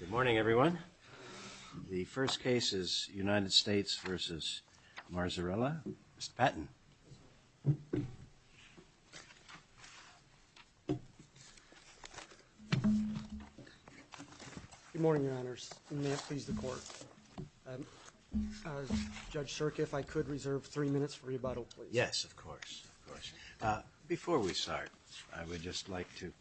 Good morning, everyone. The first case is United States v. Marzarella. Mr. Patton. Good morning, Your Honors, and may it please the Court. Judge Shirk, if I could reserve three minutes for rebuttal, please. Yes, of course. Before we start, I would just like to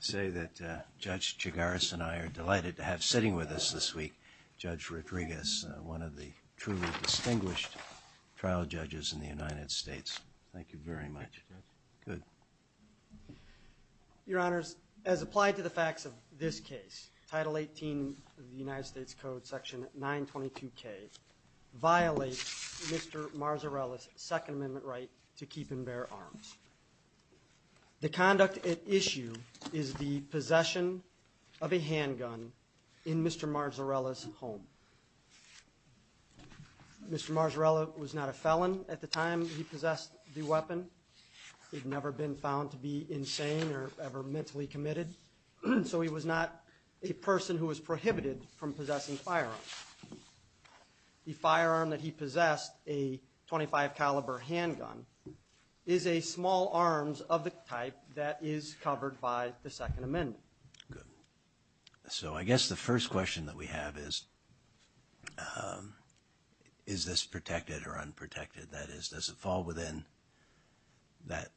say that Judge Chigaris and I are delighted to have sitting with us this week Judge Rodriguez, one of the truly distinguished trial judges in the United States. Thank you very much. Good. Your Honors, as applied to the facts of this case, Title 18 of the United States Code, Section 922K, violates Mr. Marzarella's Second Amendment right to keep and bear arms. The conduct at issue is the possession of a handgun in Mr. Marzarella's home. Mr. Marzarella was not a felon at the time he possessed the weapon. He'd never been found to be insane or ever mentally committed, so he was not a person who was prohibited from possessing firearms. The firearm that he possessed, a .25 caliber handgun, is a small arms of the type that is covered by the Second Amendment. Good. So I guess the first question that we have is, is this protected or unprotected? That is, does it fall within that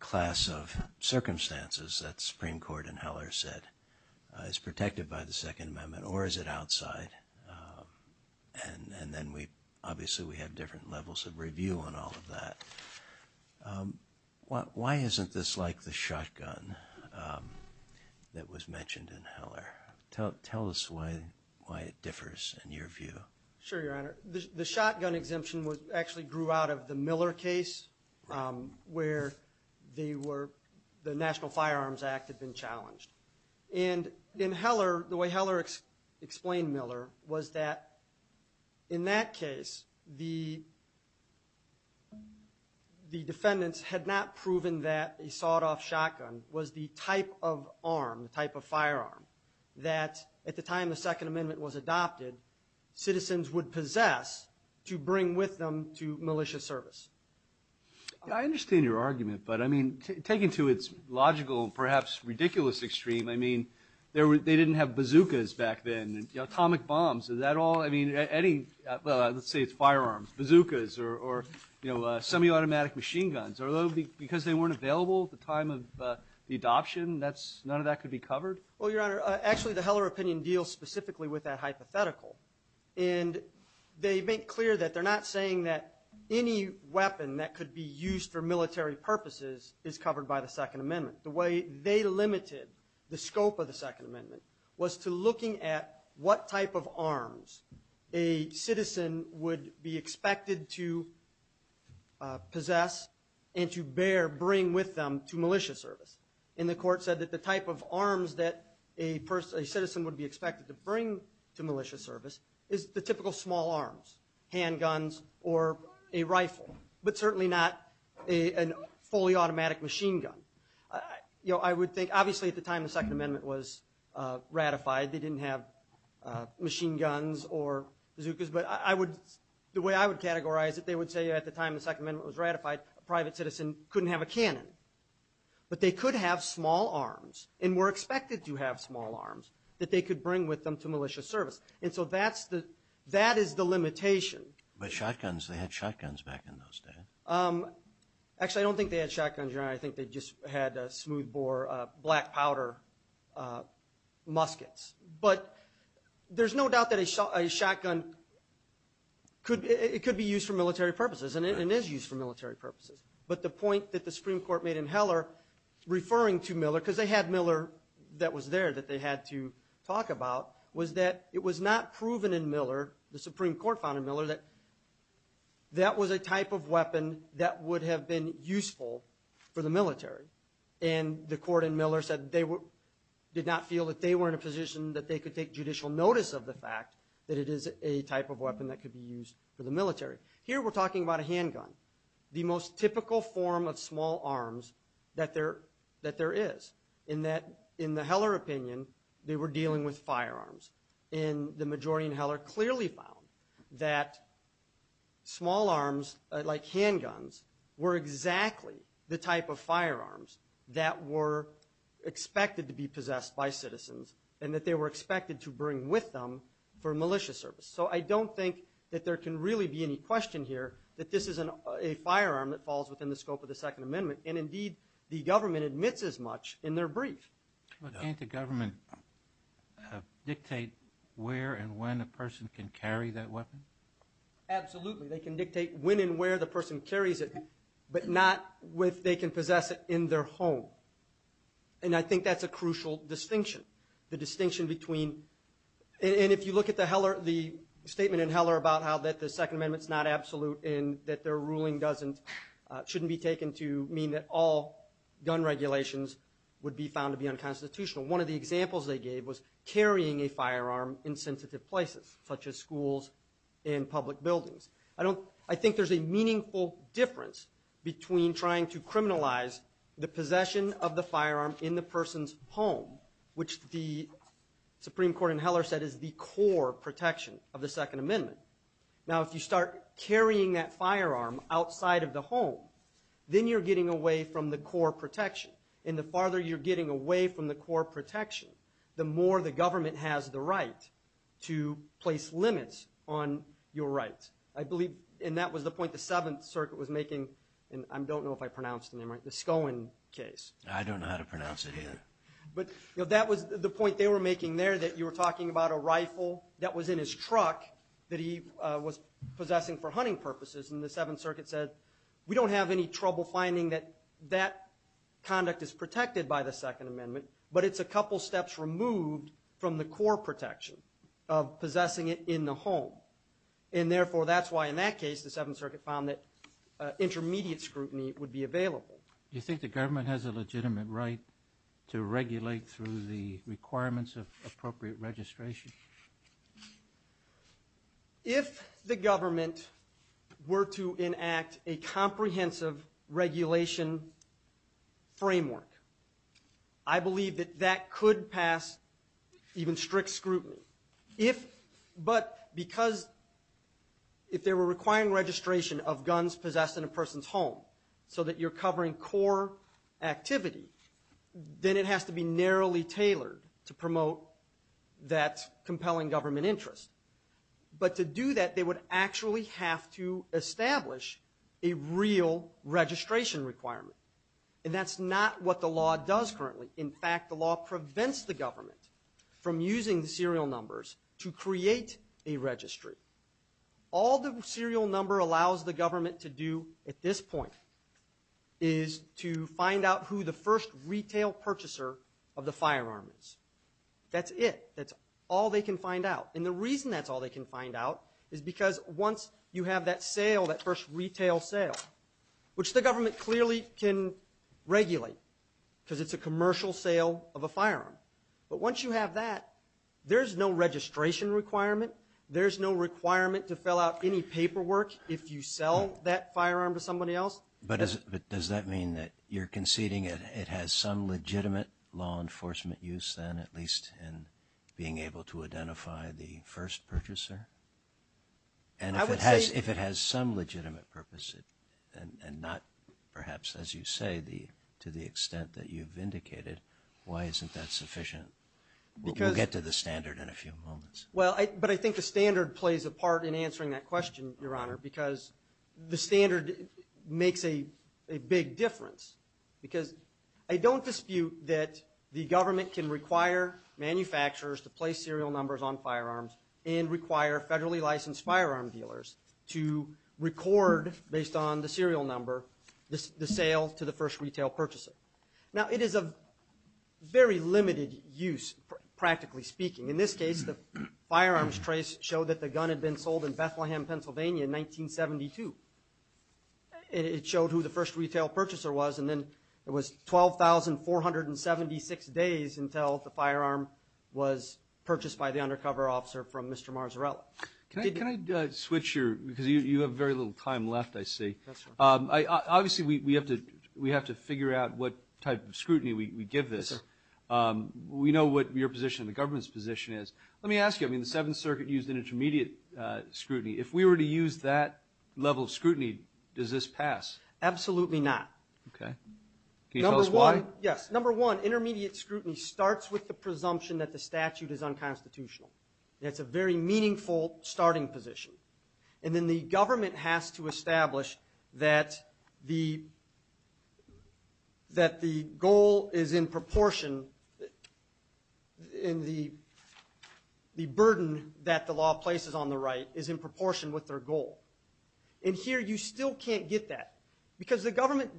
class of circumstances that the Supreme Court and Heller said is protected by the Second Amendment, or is it outside? And then obviously we have different levels of review on all of that. Why isn't this like the shotgun that was mentioned in Heller? Tell us why it differs in your view. Sure, Your Honor. The shotgun exemption actually grew out of the Miller case, where the National Firearms Act had been challenged. And in Heller, the way Heller explained Miller was that in that case, the defendants had not proven that a sawed-off shotgun was the type of arm, the type of firearm, that at the time the Second Amendment was adopted, citizens would possess to bring with them to malicious service. I understand your argument, but I mean, taken to its logical, perhaps ridiculous, extreme, I mean, they didn't have bazookas back then, atomic bombs. Is that all? I mean, any, let's say it's firearms, bazookas, or semi-automatic machine guns. Because they weren't available at the time of the adoption, none of that could be covered? Well, Your Honor, actually the Heller opinion deals specifically with that hypothetical. And they make clear that they're not saying that any weapon that could be used for military purposes is covered by the Second Amendment. The way they limited the scope of the Second Amendment was to looking at what type of arms a citizen would be expected to possess and to bear, bring with them to malicious service. And the Court said that the type of arms that a citizen would be expected to bring to malicious service is the typical small arms, handguns or a rifle, but certainly not a fully automatic machine gun. You know, I would think, obviously at the time the Second Amendment was ratified, they didn't have machine guns or bazookas, but I would, the way I would categorize it, they would say at the time the Second Amendment was ratified, a private citizen couldn't have a cannon. But they could have small arms and were expected to have small arms that they could bring with them to malicious service. And so that's the, that is the limitation. But shotguns, they had shotguns back in those days? Actually, I don't think they had shotguns, Your Honor. I think they just had smoothbore black powder muskets. But there's no doubt that a shotgun could, it could be used for military purposes and it is used for military purposes. But the point that the Supreme Court made in Heller referring to Miller, because they had Miller that was there that they had to talk about, was that it was not proven in Miller, the Supreme Court found in Miller, that that was a type of weapon that would have been useful for the military. And the court in Miller said they did not feel that they were in a position that they could take judicial notice of the fact that it is a type of weapon that could be used for the military. Here we're talking about a handgun, the most typical form of small arms that there is. And that in the Heller opinion, they were dealing with firearms. And the majority in Heller clearly found that small arms like handguns were exactly the type of firearms that were expected to be possessed by citizens and that they were expected to bring with them for malicious service. So I don't think that there can really be any question here that this is a firearm that falls within the scope of the Second Amendment. And indeed, the government admits as much in their brief. Can't the government dictate where and when a person can carry that weapon? Absolutely. They can dictate when and where the person carries it, but not if they can possess it in their home. And I think that's a crucial distinction, the distinction between... And if you look at the statement in Heller about how the Second Amendment's not absolute and that their ruling shouldn't be taken to mean that all gun regulations would be found to be unconstitutional. One of the examples they gave was carrying a firearm in sensitive places, such as schools and public buildings. I think there's a meaningful difference between trying to criminalize the possession of the firearm in the person's home, which the Supreme Court in Heller said is the core protection of the Second Amendment. Now, if you start carrying that firearm outside of the home, then you're getting away from the core protection. And the farther you're getting away from the core protection, the more the government has the right to place limits on your rights. I believe, and that was the point the Seventh Circuit was making, and I don't know if I pronounced the name right, the Scone case. I don't know how to pronounce it either. But that was the point they were making there, that you were talking about a rifle that was in his truck that he was possessing for hunting purposes. And the Seventh Circuit said, we don't have any trouble finding that that conduct is protected by the Second Amendment, but it's a couple steps removed from the core protection of possessing it in the home. And therefore, that's why in that case, the Seventh Circuit found that intermediate scrutiny would be available. Do you think the government has a legitimate right to regulate through the requirements of appropriate registration? If the government were to enact a comprehensive regulation framework, I believe that that could pass even strict scrutiny. But because if they were requiring registration of guns possessed in a person's home so that you're covering core activity, then it has to be narrowly tailored to promote that compelling government interest. But to do that, they would actually have to establish a real registration requirement. And that's not what the law does currently. In fact, the law prevents the government from using the serial numbers to create a registry. All the serial number allows the government to do at this point is to find out who the first retail purchaser of the firearm is. That's it. That's all they can find out. And the reason that's all they can find out is because once you have that sale, that first retail sale, which the government clearly can regulate because it's a commercial sale of a firearm. But once you have that, there's no registration requirement. There's no requirement to fill out any paperwork if you sell that firearm to somebody else. But does that mean that you're conceding it has some legitimate law enforcement use, then, at least in being able to identify the first purchaser? And if it has some legitimate purpose and not perhaps, as you say, to the extent that you've indicated, why isn't that sufficient? We'll get to the standard in a few moments. Well, but I think the standard plays a part in answering that question, Your Honor, because the standard makes a big difference. Because I don't dispute that the government can require manufacturers to place serial numbers on firearms and require federally licensed firearm dealers to record, based on the serial number, the sale to the first retail purchaser. Now, it is of very limited use, practically speaking. In this case, the firearms trace showed that the gun had been sold in Bethlehem, Pennsylvania in 1972. It showed who the first retail purchaser was. And then it was 12,476 days until the firearm was purchased by the undercover officer from Mr. Marzarella. Can I switch your – because you have very little time left, I see. Obviously, we have to figure out what type of scrutiny we give this. We know what your position and the government's position is. Let me ask you. I mean, the Seventh Circuit used an intermediate scrutiny. If we were to use that level of scrutiny, does this pass? Absolutely not. Okay. Can you tell us why? Yes. Number one, intermediate scrutiny starts with the presumption that the statute is unconstitutional. That's a very meaningful starting position. And then the government has to establish that the goal is in proportion in the burden that the law places on the right is in proportion with their goal. And here you still can't get that because the government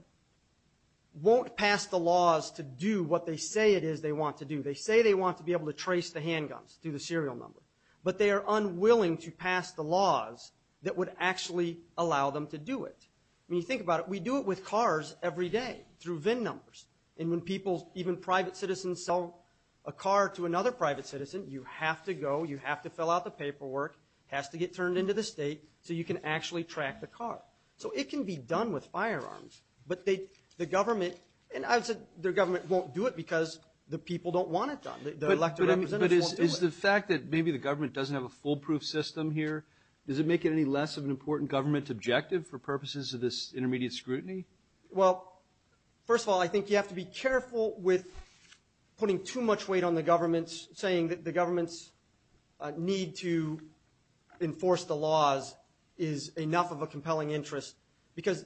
won't pass the laws to do what they say it is they want to do. They say they want to be able to trace the handguns through the serial number. But they are unwilling to pass the laws that would actually allow them to do it. When you think about it, we do it with cars every day through VIN numbers. And when people, even private citizens, sell a car to another private citizen, you have to go, you have to fill out the paperwork, it has to get turned into the state so you can actually track the car. So it can be done with firearms. But the government – and I've said their government won't do it because the people don't want it done. Their elected representatives won't do it. Is the fact that maybe the government doesn't have a foolproof system here, does it make it any less of an important government objective for purposes of this intermediate scrutiny? Well, first of all, I think you have to be careful with putting too much weight on the government, saying that the government's need to enforce the laws is enough of a compelling interest. Because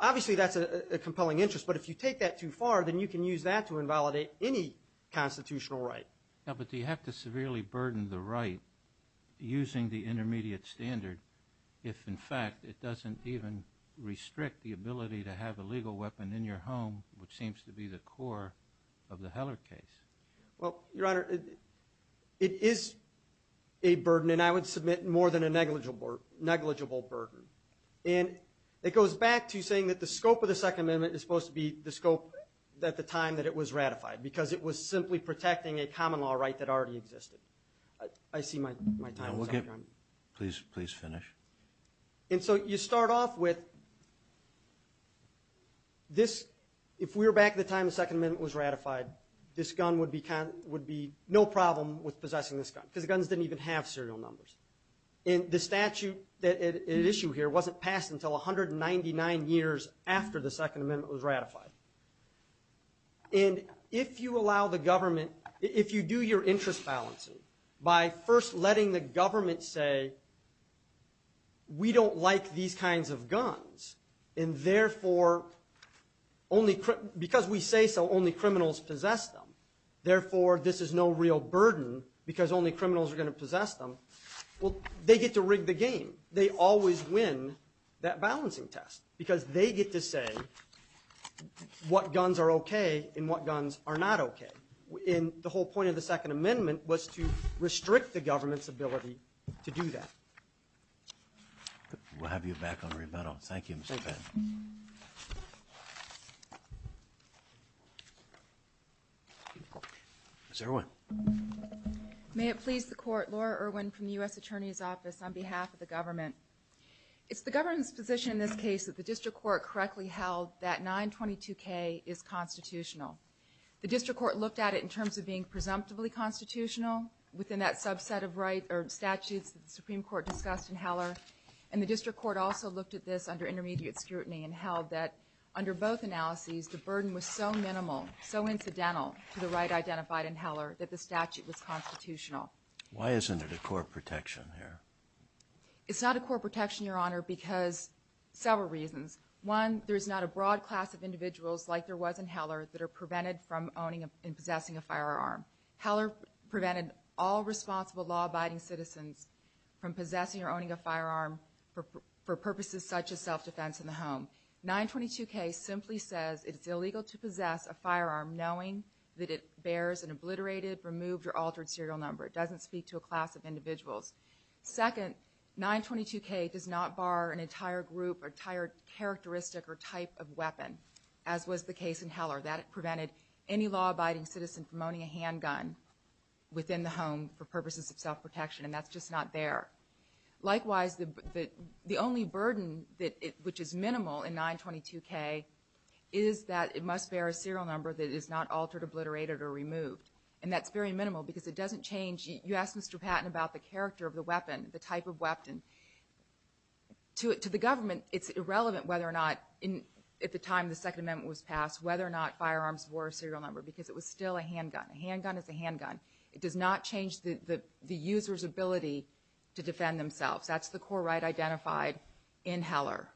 obviously that's a compelling interest. But if you take that too far, then you can use that to invalidate any constitutional right. Yeah, but do you have to severely burden the right using the intermediate standard if, in fact, it doesn't even restrict the ability to have a legal weapon in your home, which seems to be the core of the Heller case? Well, Your Honor, it is a burden, and I would submit more than a negligible burden. And it goes back to saying that the scope of the Second Amendment is supposed to be the scope at the time that it was ratified because it was simply protecting a common law right that already existed. I see my time is up, Your Honor. Please finish. And so you start off with this. If we were back at the time the Second Amendment was ratified, this gun would be no problem with possessing this gun because the guns didn't even have serial numbers. And the statute at issue here wasn't passed until 199 years after the Second Amendment was ratified. And if you allow the government, if you do your interest balancing by first letting the government say, we don't like these kinds of guns and, therefore, because we say so, only criminals possess them. Therefore, this is no real burden because only criminals are going to possess them. Well, they get to rig the game. They always win that balancing test because they get to say what guns are okay and what guns are not okay. And the whole point of the Second Amendment was to restrict the government's ability to do that. We'll have you back on rebuttal. Thank you, Mr. Penn. Thank you. Ms. Irwin. May it please the Court. Laura Irwin from the U.S. Attorney's Office on behalf of the government. It's the government's position in this case that the district court correctly held that 922K is constitutional. The district court looked at it in terms of being presumptively constitutional within that subset of rights or statutes that the Supreme Court discussed in Heller, and the district court also looked at this under intermediate scrutiny and held that under both analyses, the burden was so minimal, so incidental to the right identified in Heller, that the statute was constitutional. Why isn't it a court protection here? It's not a court protection, Your Honor, because several reasons. One, there's not a broad class of individuals like there was in Heller that are prevented from owning and possessing a firearm. Heller prevented all responsible law-abiding citizens from possessing or owning a firearm for purposes such as self-defense in the home. 922K simply says it's illegal to possess a firearm knowing that it bears an obliterated, removed, or altered serial number. It doesn't speak to a class of individuals. Second, 922K does not bar an entire group or entire characteristic or type of weapon, as was the case in Heller. That prevented any law-abiding citizen from owning a handgun within the home for purposes of self-protection, and that's just not there. Likewise, the only burden which is minimal in 922K is that it must bear a serial number that is not altered, obliterated, or removed, and that's very minimal because it doesn't change. You asked Mr. Patton about the character of the weapon, the type of weapon. To the government, it's irrelevant whether or not, at the time the Second Amendment was passed, whether or not firearms were a serial number because it was still a handgun. A handgun is a handgun. It does not change the user's ability to defend themselves. That's the core right identified in Heller.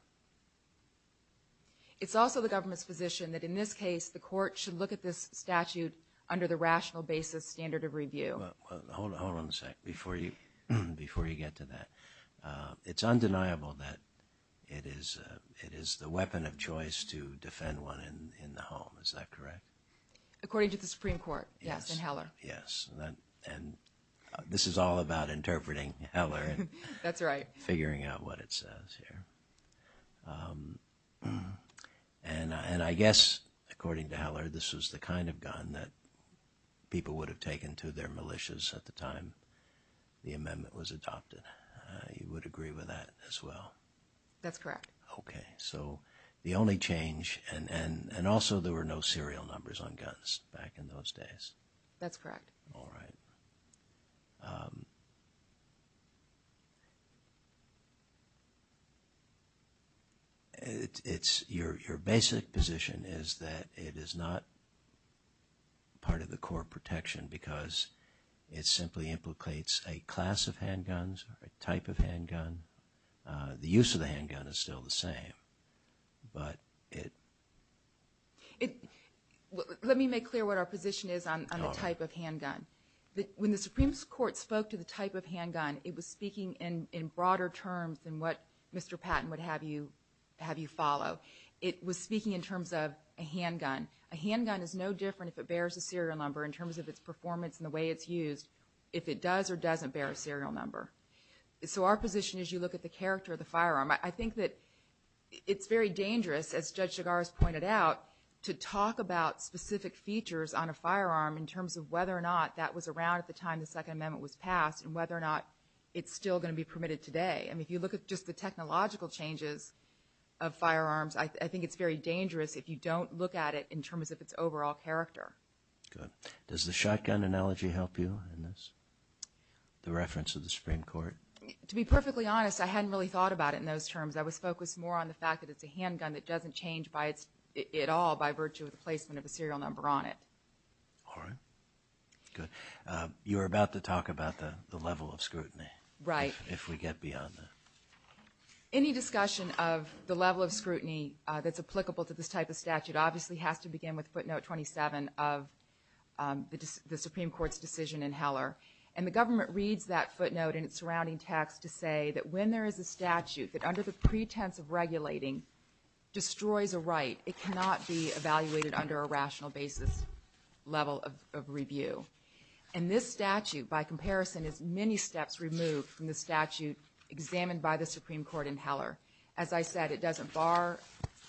It's also the government's position that, in this case, the court should look at this statute under the rational basis standard of review. Hold on a second before you get to that. It's undeniable that it is the weapon of choice to defend one in the home. Is that correct? According to the Supreme Court, yes, in Heller. Yes, and this is all about interpreting Heller. That's right. Figuring out what it says here. And I guess, according to Heller, this was the kind of gun that people would have taken to their militias at the time the amendment was adopted. You would agree with that as well? That's correct. Okay, so the only change, and also there were no serial numbers on guns back in those days. That's correct. All right. Your basic position is that it is not part of the core protection because it simply implicates a class of handguns or a type of handgun. The use of the handgun is still the same. Let me make clear what our position is on the type of handgun. When the Supreme Court spoke to the type of handgun, it was speaking in broader terms than what Mr. Patton would have you follow. It was speaking in terms of a handgun. A handgun is no different if it bears a serial number in terms of its performance and the way it's used if it does or doesn't bear a serial number. So our position is you look at the character of the firearm. I think that it's very dangerous, as Judge Chigars pointed out, to talk about specific features on a firearm in terms of whether or not that was around at the time the Second Amendment was passed and whether or not it's still going to be permitted today. I mean, if you look at just the technological changes of firearms, I think it's very dangerous if you don't look at it in terms of its overall character. Good. Does the shotgun analogy help you in this, the reference of the Supreme Court? To be perfectly honest, I hadn't really thought about it in those terms. I was focused more on the fact that it's a handgun that doesn't change at all by virtue of the placement of a serial number on it. All right. Good. You were about to talk about the level of scrutiny. Right. If we get beyond that. Any discussion of the level of scrutiny that's applicable to this type of statute obviously has to begin with footnote 27 of the Supreme Court's decision in Heller. And the government reads that footnote and its surrounding text to say that when there is a statute that under the pretense of regulating destroys a right, it cannot be evaluated under a rational basis level of review. And this statute, by comparison, is many steps removed from the statute examined by the Supreme Court in Heller. As I said, it doesn't bar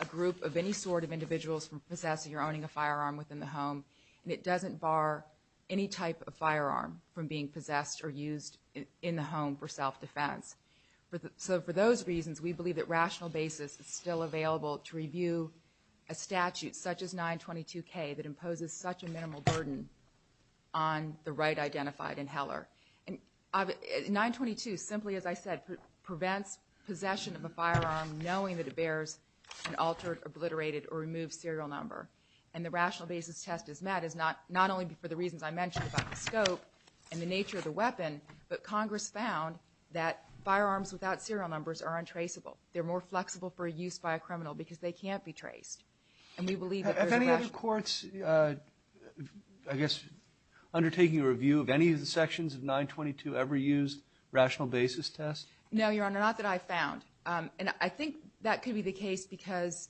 a group of any sort of individuals from possessing or owning a firearm within the home. And it doesn't bar any type of firearm from being possessed or used in the home for self-defense. So for those reasons, we believe that rational basis is still available to review a statute such as 922K that imposes such a minimal burden on the right identified in Heller. And 922 simply, as I said, prevents possession of a firearm knowing that it bears an altered, obliterated, or removed serial number. And the rational basis test is met is not only for the reasons I mentioned about the scope and the nature of the weapon, but Congress found that firearms without serial numbers are untraceable. They're more flexible for use by a criminal because they can't be traced. And we believe that there's a rational basis. If any other courts, I guess, undertaking a review of any of the sections of 922 ever used rational basis test? No, Your Honor. Not that I found. And I think that could be the case because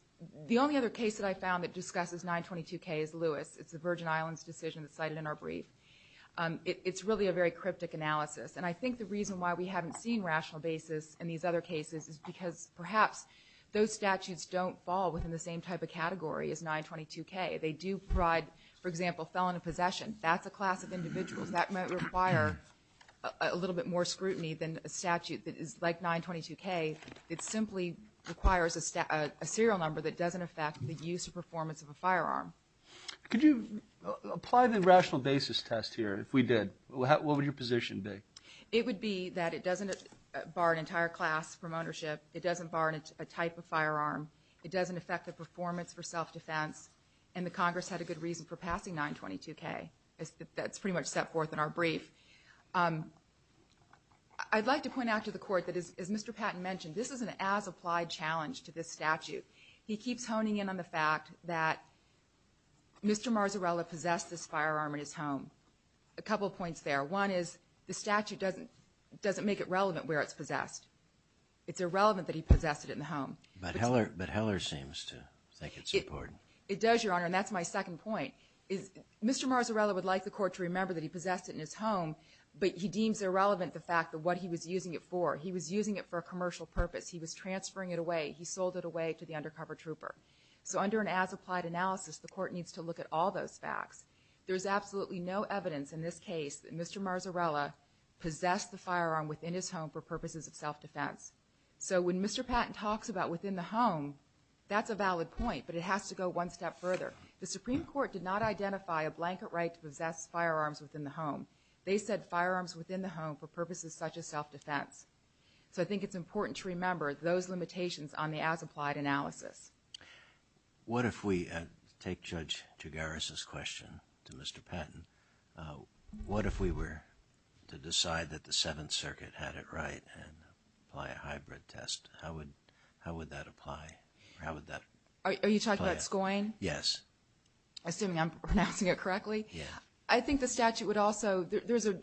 the only other case that I found that discusses 922K is Lewis. It's the Virgin Islands decision that's cited in our brief. It's really a very cryptic analysis. And I think the reason why we haven't seen rational basis in these other cases is because perhaps those statutes don't fall within the same type of category as 922K. They do provide, for example, felon of possession. That's a class of individuals that might require a little bit more scrutiny than a statute that is like 922K. It simply requires a serial number that doesn't affect the use or performance of a firearm. Could you apply the rational basis test here if we did? What would your position be? It would be that it doesn't bar an entire class from ownership. It doesn't bar a type of firearm. It doesn't affect the performance for self-defense. And the Congress had a good reason for passing 922K. That's pretty much set forth in our brief. I'd like to point out to the Court that, as Mr. Patton mentioned, this is an as-applied challenge to this statute. He keeps honing in on the fact that Mr. Marzarella possessed this firearm in his home. A couple points there. One is the statute doesn't make it relevant where it's possessed. It's irrelevant that he possessed it in the home. But Heller seems to think it's important. It does, Your Honor, and that's my second point. Mr. Marzarella would like the Court to remember that he possessed it in his home, but he deems irrelevant the fact of what he was using it for. He was using it for a commercial purpose. He was transferring it away. He sold it away to the undercover trooper. So under an as-applied analysis, the Court needs to look at all those facts. There's absolutely no evidence in this case that Mr. Marzarella possessed the firearm within his home for purposes of self-defense. So when Mr. Patton talks about within the home, that's a valid point, but it has to go one step further. The Supreme Court did not identify a blanket right to possess firearms within the home. They said firearms within the home for purposes such as self-defense. So I think it's important to remember those limitations on the as-applied analysis. What if we take Judge Gigaris' question to Mr. Patton? What if we were to decide that the Seventh Circuit had it right and apply a hybrid test? How would that apply? Are you talking about SCOIN? Yes. Assuming I'm pronouncing it correctly? Yes. I think the statute would also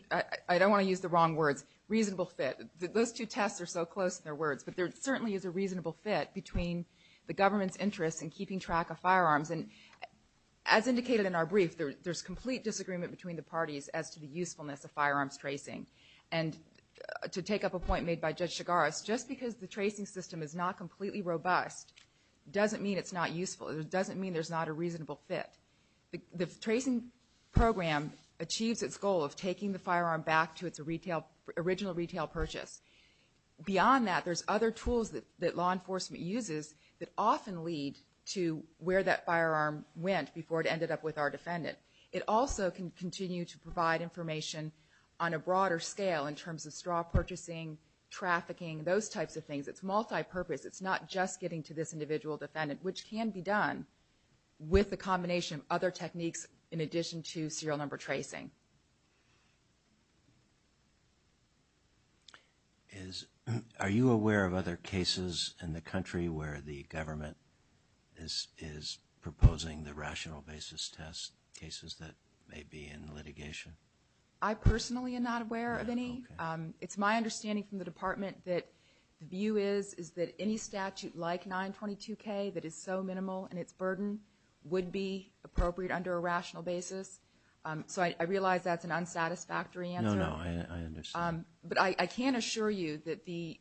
– I don't want to use the wrong words – reasonable fit. Those two tests are so close in their words. But there certainly is a reasonable fit between the government's interest in keeping track of firearms. And as indicated in our brief, there's complete disagreement between the parties as to the usefulness of firearms tracing. And to take up a point made by Judge Gigaris, just because the tracing system is not completely robust doesn't mean it's not useful. It doesn't mean there's not a reasonable fit. The tracing program achieves its goal of taking the firearm back to its original retail purchase. Beyond that, there's other tools that law enforcement uses that often lead to where that firearm went before it ended up with our defendant. It also can continue to provide information on a broader scale in terms of straw purchasing, trafficking, those types of things. It's multipurpose. It's not just getting to this individual defendant, which can be done with a combination of other techniques in addition to serial number tracing. Are you aware of other cases in the country where the government is proposing the rational basis test cases that may be in litigation? I personally am not aware of any. It's my understanding from the Department that the view is that any statute like 922K that is so minimal in its burden would be appropriate under a rational basis. So I realize that's an unsatisfactory answer. No, no, I understand. But I can assure you that the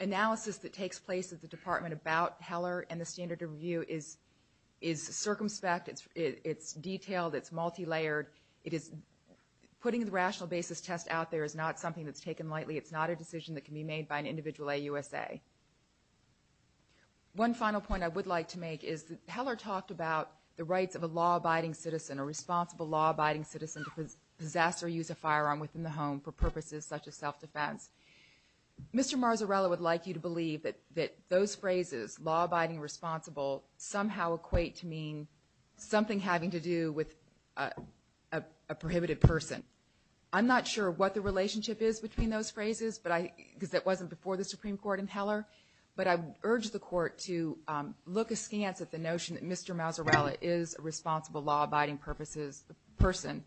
analysis that takes place at the Department about Heller and the standard of review is circumspect. It's detailed. It's multilayered. Putting the rational basis test out there is not something that's taken lightly. It's not a decision that can be made by an individual at USA. One final point I would like to make is that Heller talked about the rights of a law-abiding citizen, a responsible law-abiding citizen to possess or use a firearm within the home for purposes such as self-defense. Mr. Marzarella would like you to believe that those phrases, law-abiding, responsible, somehow equate to mean something having to do with a prohibited person. I'm not sure what the relationship is between those phrases because that wasn't before the Supreme Court in Heller, but I urge the Court to look askance at the notion that Mr. Marzarella is a responsible law-abiding person.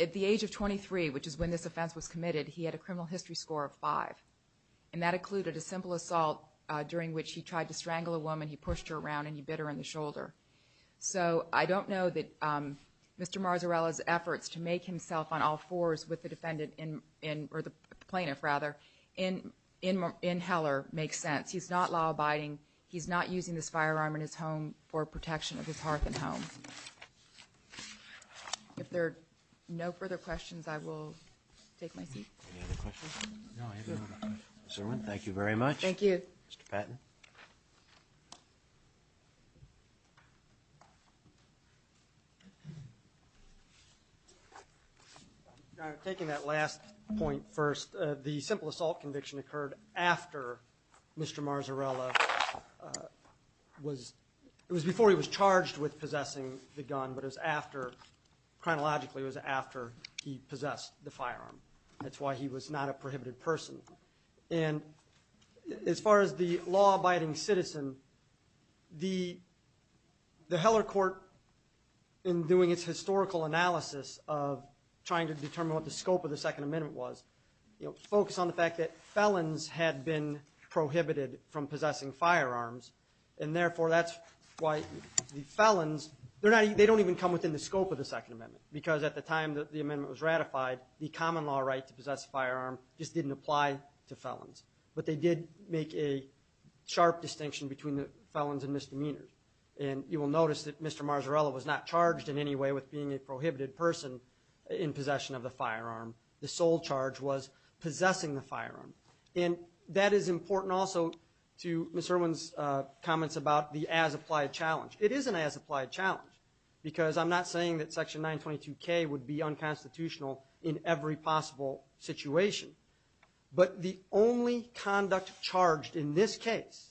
At the age of 23, which is when this offense was committed, he had a criminal history score of 5, and that included a simple assault during which he tried to strangle a woman. He pushed her around and he bit her in the shoulder. So I don't know that Mr. Marzarella's efforts to make himself on all fours with the defendant, or the plaintiff, rather, in Heller makes sense. He's not law-abiding. He's not using this firearm in his home for protection of his hearth and home. If there are no further questions, I will take my seat. Any other questions? No, I have no more questions. Mr. Erwin, thank you very much. Thank you. Mr. Patton. I'm taking that last point first. The simple assault conviction occurred after Mr. Marzarella was before he was charged with possessing the gun, but it was after, chronologically, it was after he possessed the firearm. That's why he was not a prohibited person. And as far as the law-abiding citizen, the Heller court, in doing its historical analysis of trying to determine what the scope of the Second Amendment was, you know, focused on the fact that felons had been prohibited from possessing firearms, and therefore that's why the felons, they don't even come within the scope of the Second Amendment, because at the time that the amendment was ratified, the common law right to possess a firearm just didn't apply to felons. But they did make a sharp distinction between the felons and misdemeanors. And you will notice that Mr. Marzarella was not charged in any way with being a prohibited person in possession of the firearm. The sole charge was possessing the firearm. And that is important also to Ms. Irwin's comments about the as-applied challenge. It is an as-applied challenge, because I'm not saying that Section 922K would be unconstitutional in every possible situation. But the only conduct charged in this case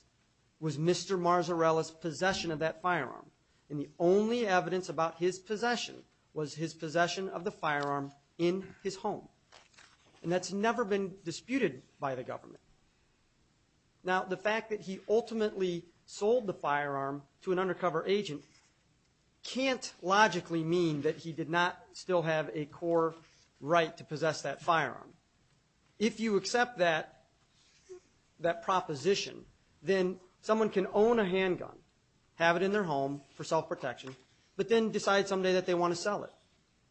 was Mr. Marzarella's possession of that firearm. And the only evidence about his possession was his possession of the firearm in his home. And that's never been disputed by the government. Now, the fact that he ultimately sold the firearm to an undercover agent can't logically mean that he did not still have a core right to possess that firearm. If you accept that proposition, then someone can own a handgun, have it in their home for self-protection, but then decide someday that they want to sell it,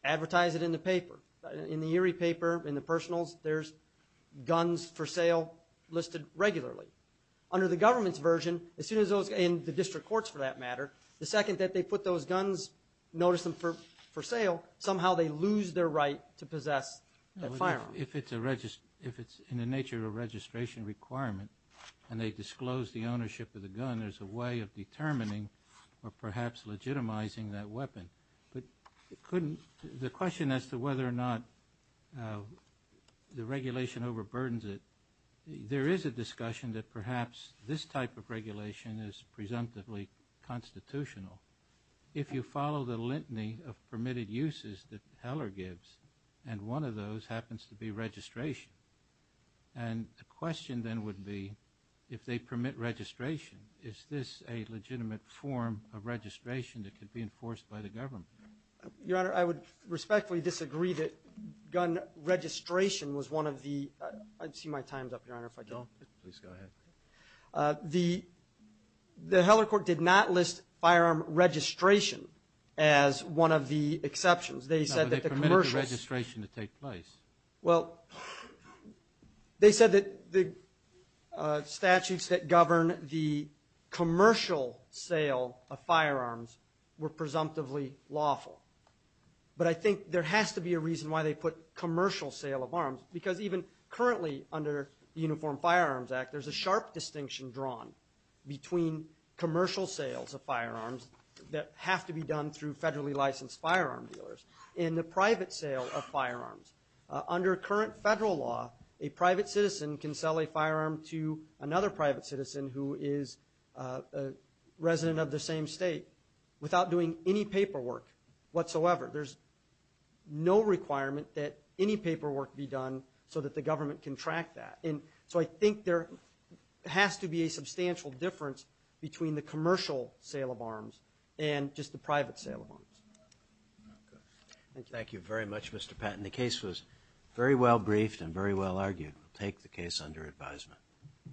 advertise it in the paper, in the Erie paper, in the personals, there's guns for sale listed regularly. Under the government's version, as soon as those in the district courts, for that matter, the second that they put those guns, notice them for sale, somehow they lose their right to possess that firearm. If it's in the nature of a registration requirement and they disclose the ownership of the gun, there's a way of determining or perhaps legitimizing that weapon. But the question as to whether or not the regulation overburdens it, there is a discussion that perhaps this type of regulation is presumptively constitutional. If you follow the litany of permitted uses that Heller gives, and one of those happens to be registration, and the question then would be, if they permit registration, is this a legitimate form of registration that could be enforced by the government? Your Honor, I would respectfully disagree that gun registration was one of the ‑‑ I see my time's up, Your Honor, if I can. Please go ahead. The Heller court did not list firearm registration as one of the exceptions. They said that the commercial ‑‑ No, they permitted the registration to take place. Well, they said that the statutes that govern the commercial sale of firearms were presumptively lawful. But I think there has to be a reason why they put commercial sale of arms, because even currently under the Uniform Firearms Act, there's a sharp distinction drawn between commercial sales of firearms that have to be done through federally licensed firearm dealers and the private sale of firearms. Under current federal law, a private citizen can sell a firearm to another private citizen who is a resident of the same state without doing any paperwork whatsoever. There's no requirement that any paperwork be done so that the government can track that. And so I think there has to be a substantial difference between the commercial sale of arms and just the private sale of arms. Thank you very much, Mr. Patton. The case was very well briefed and very well argued. We'll take the case under advisement.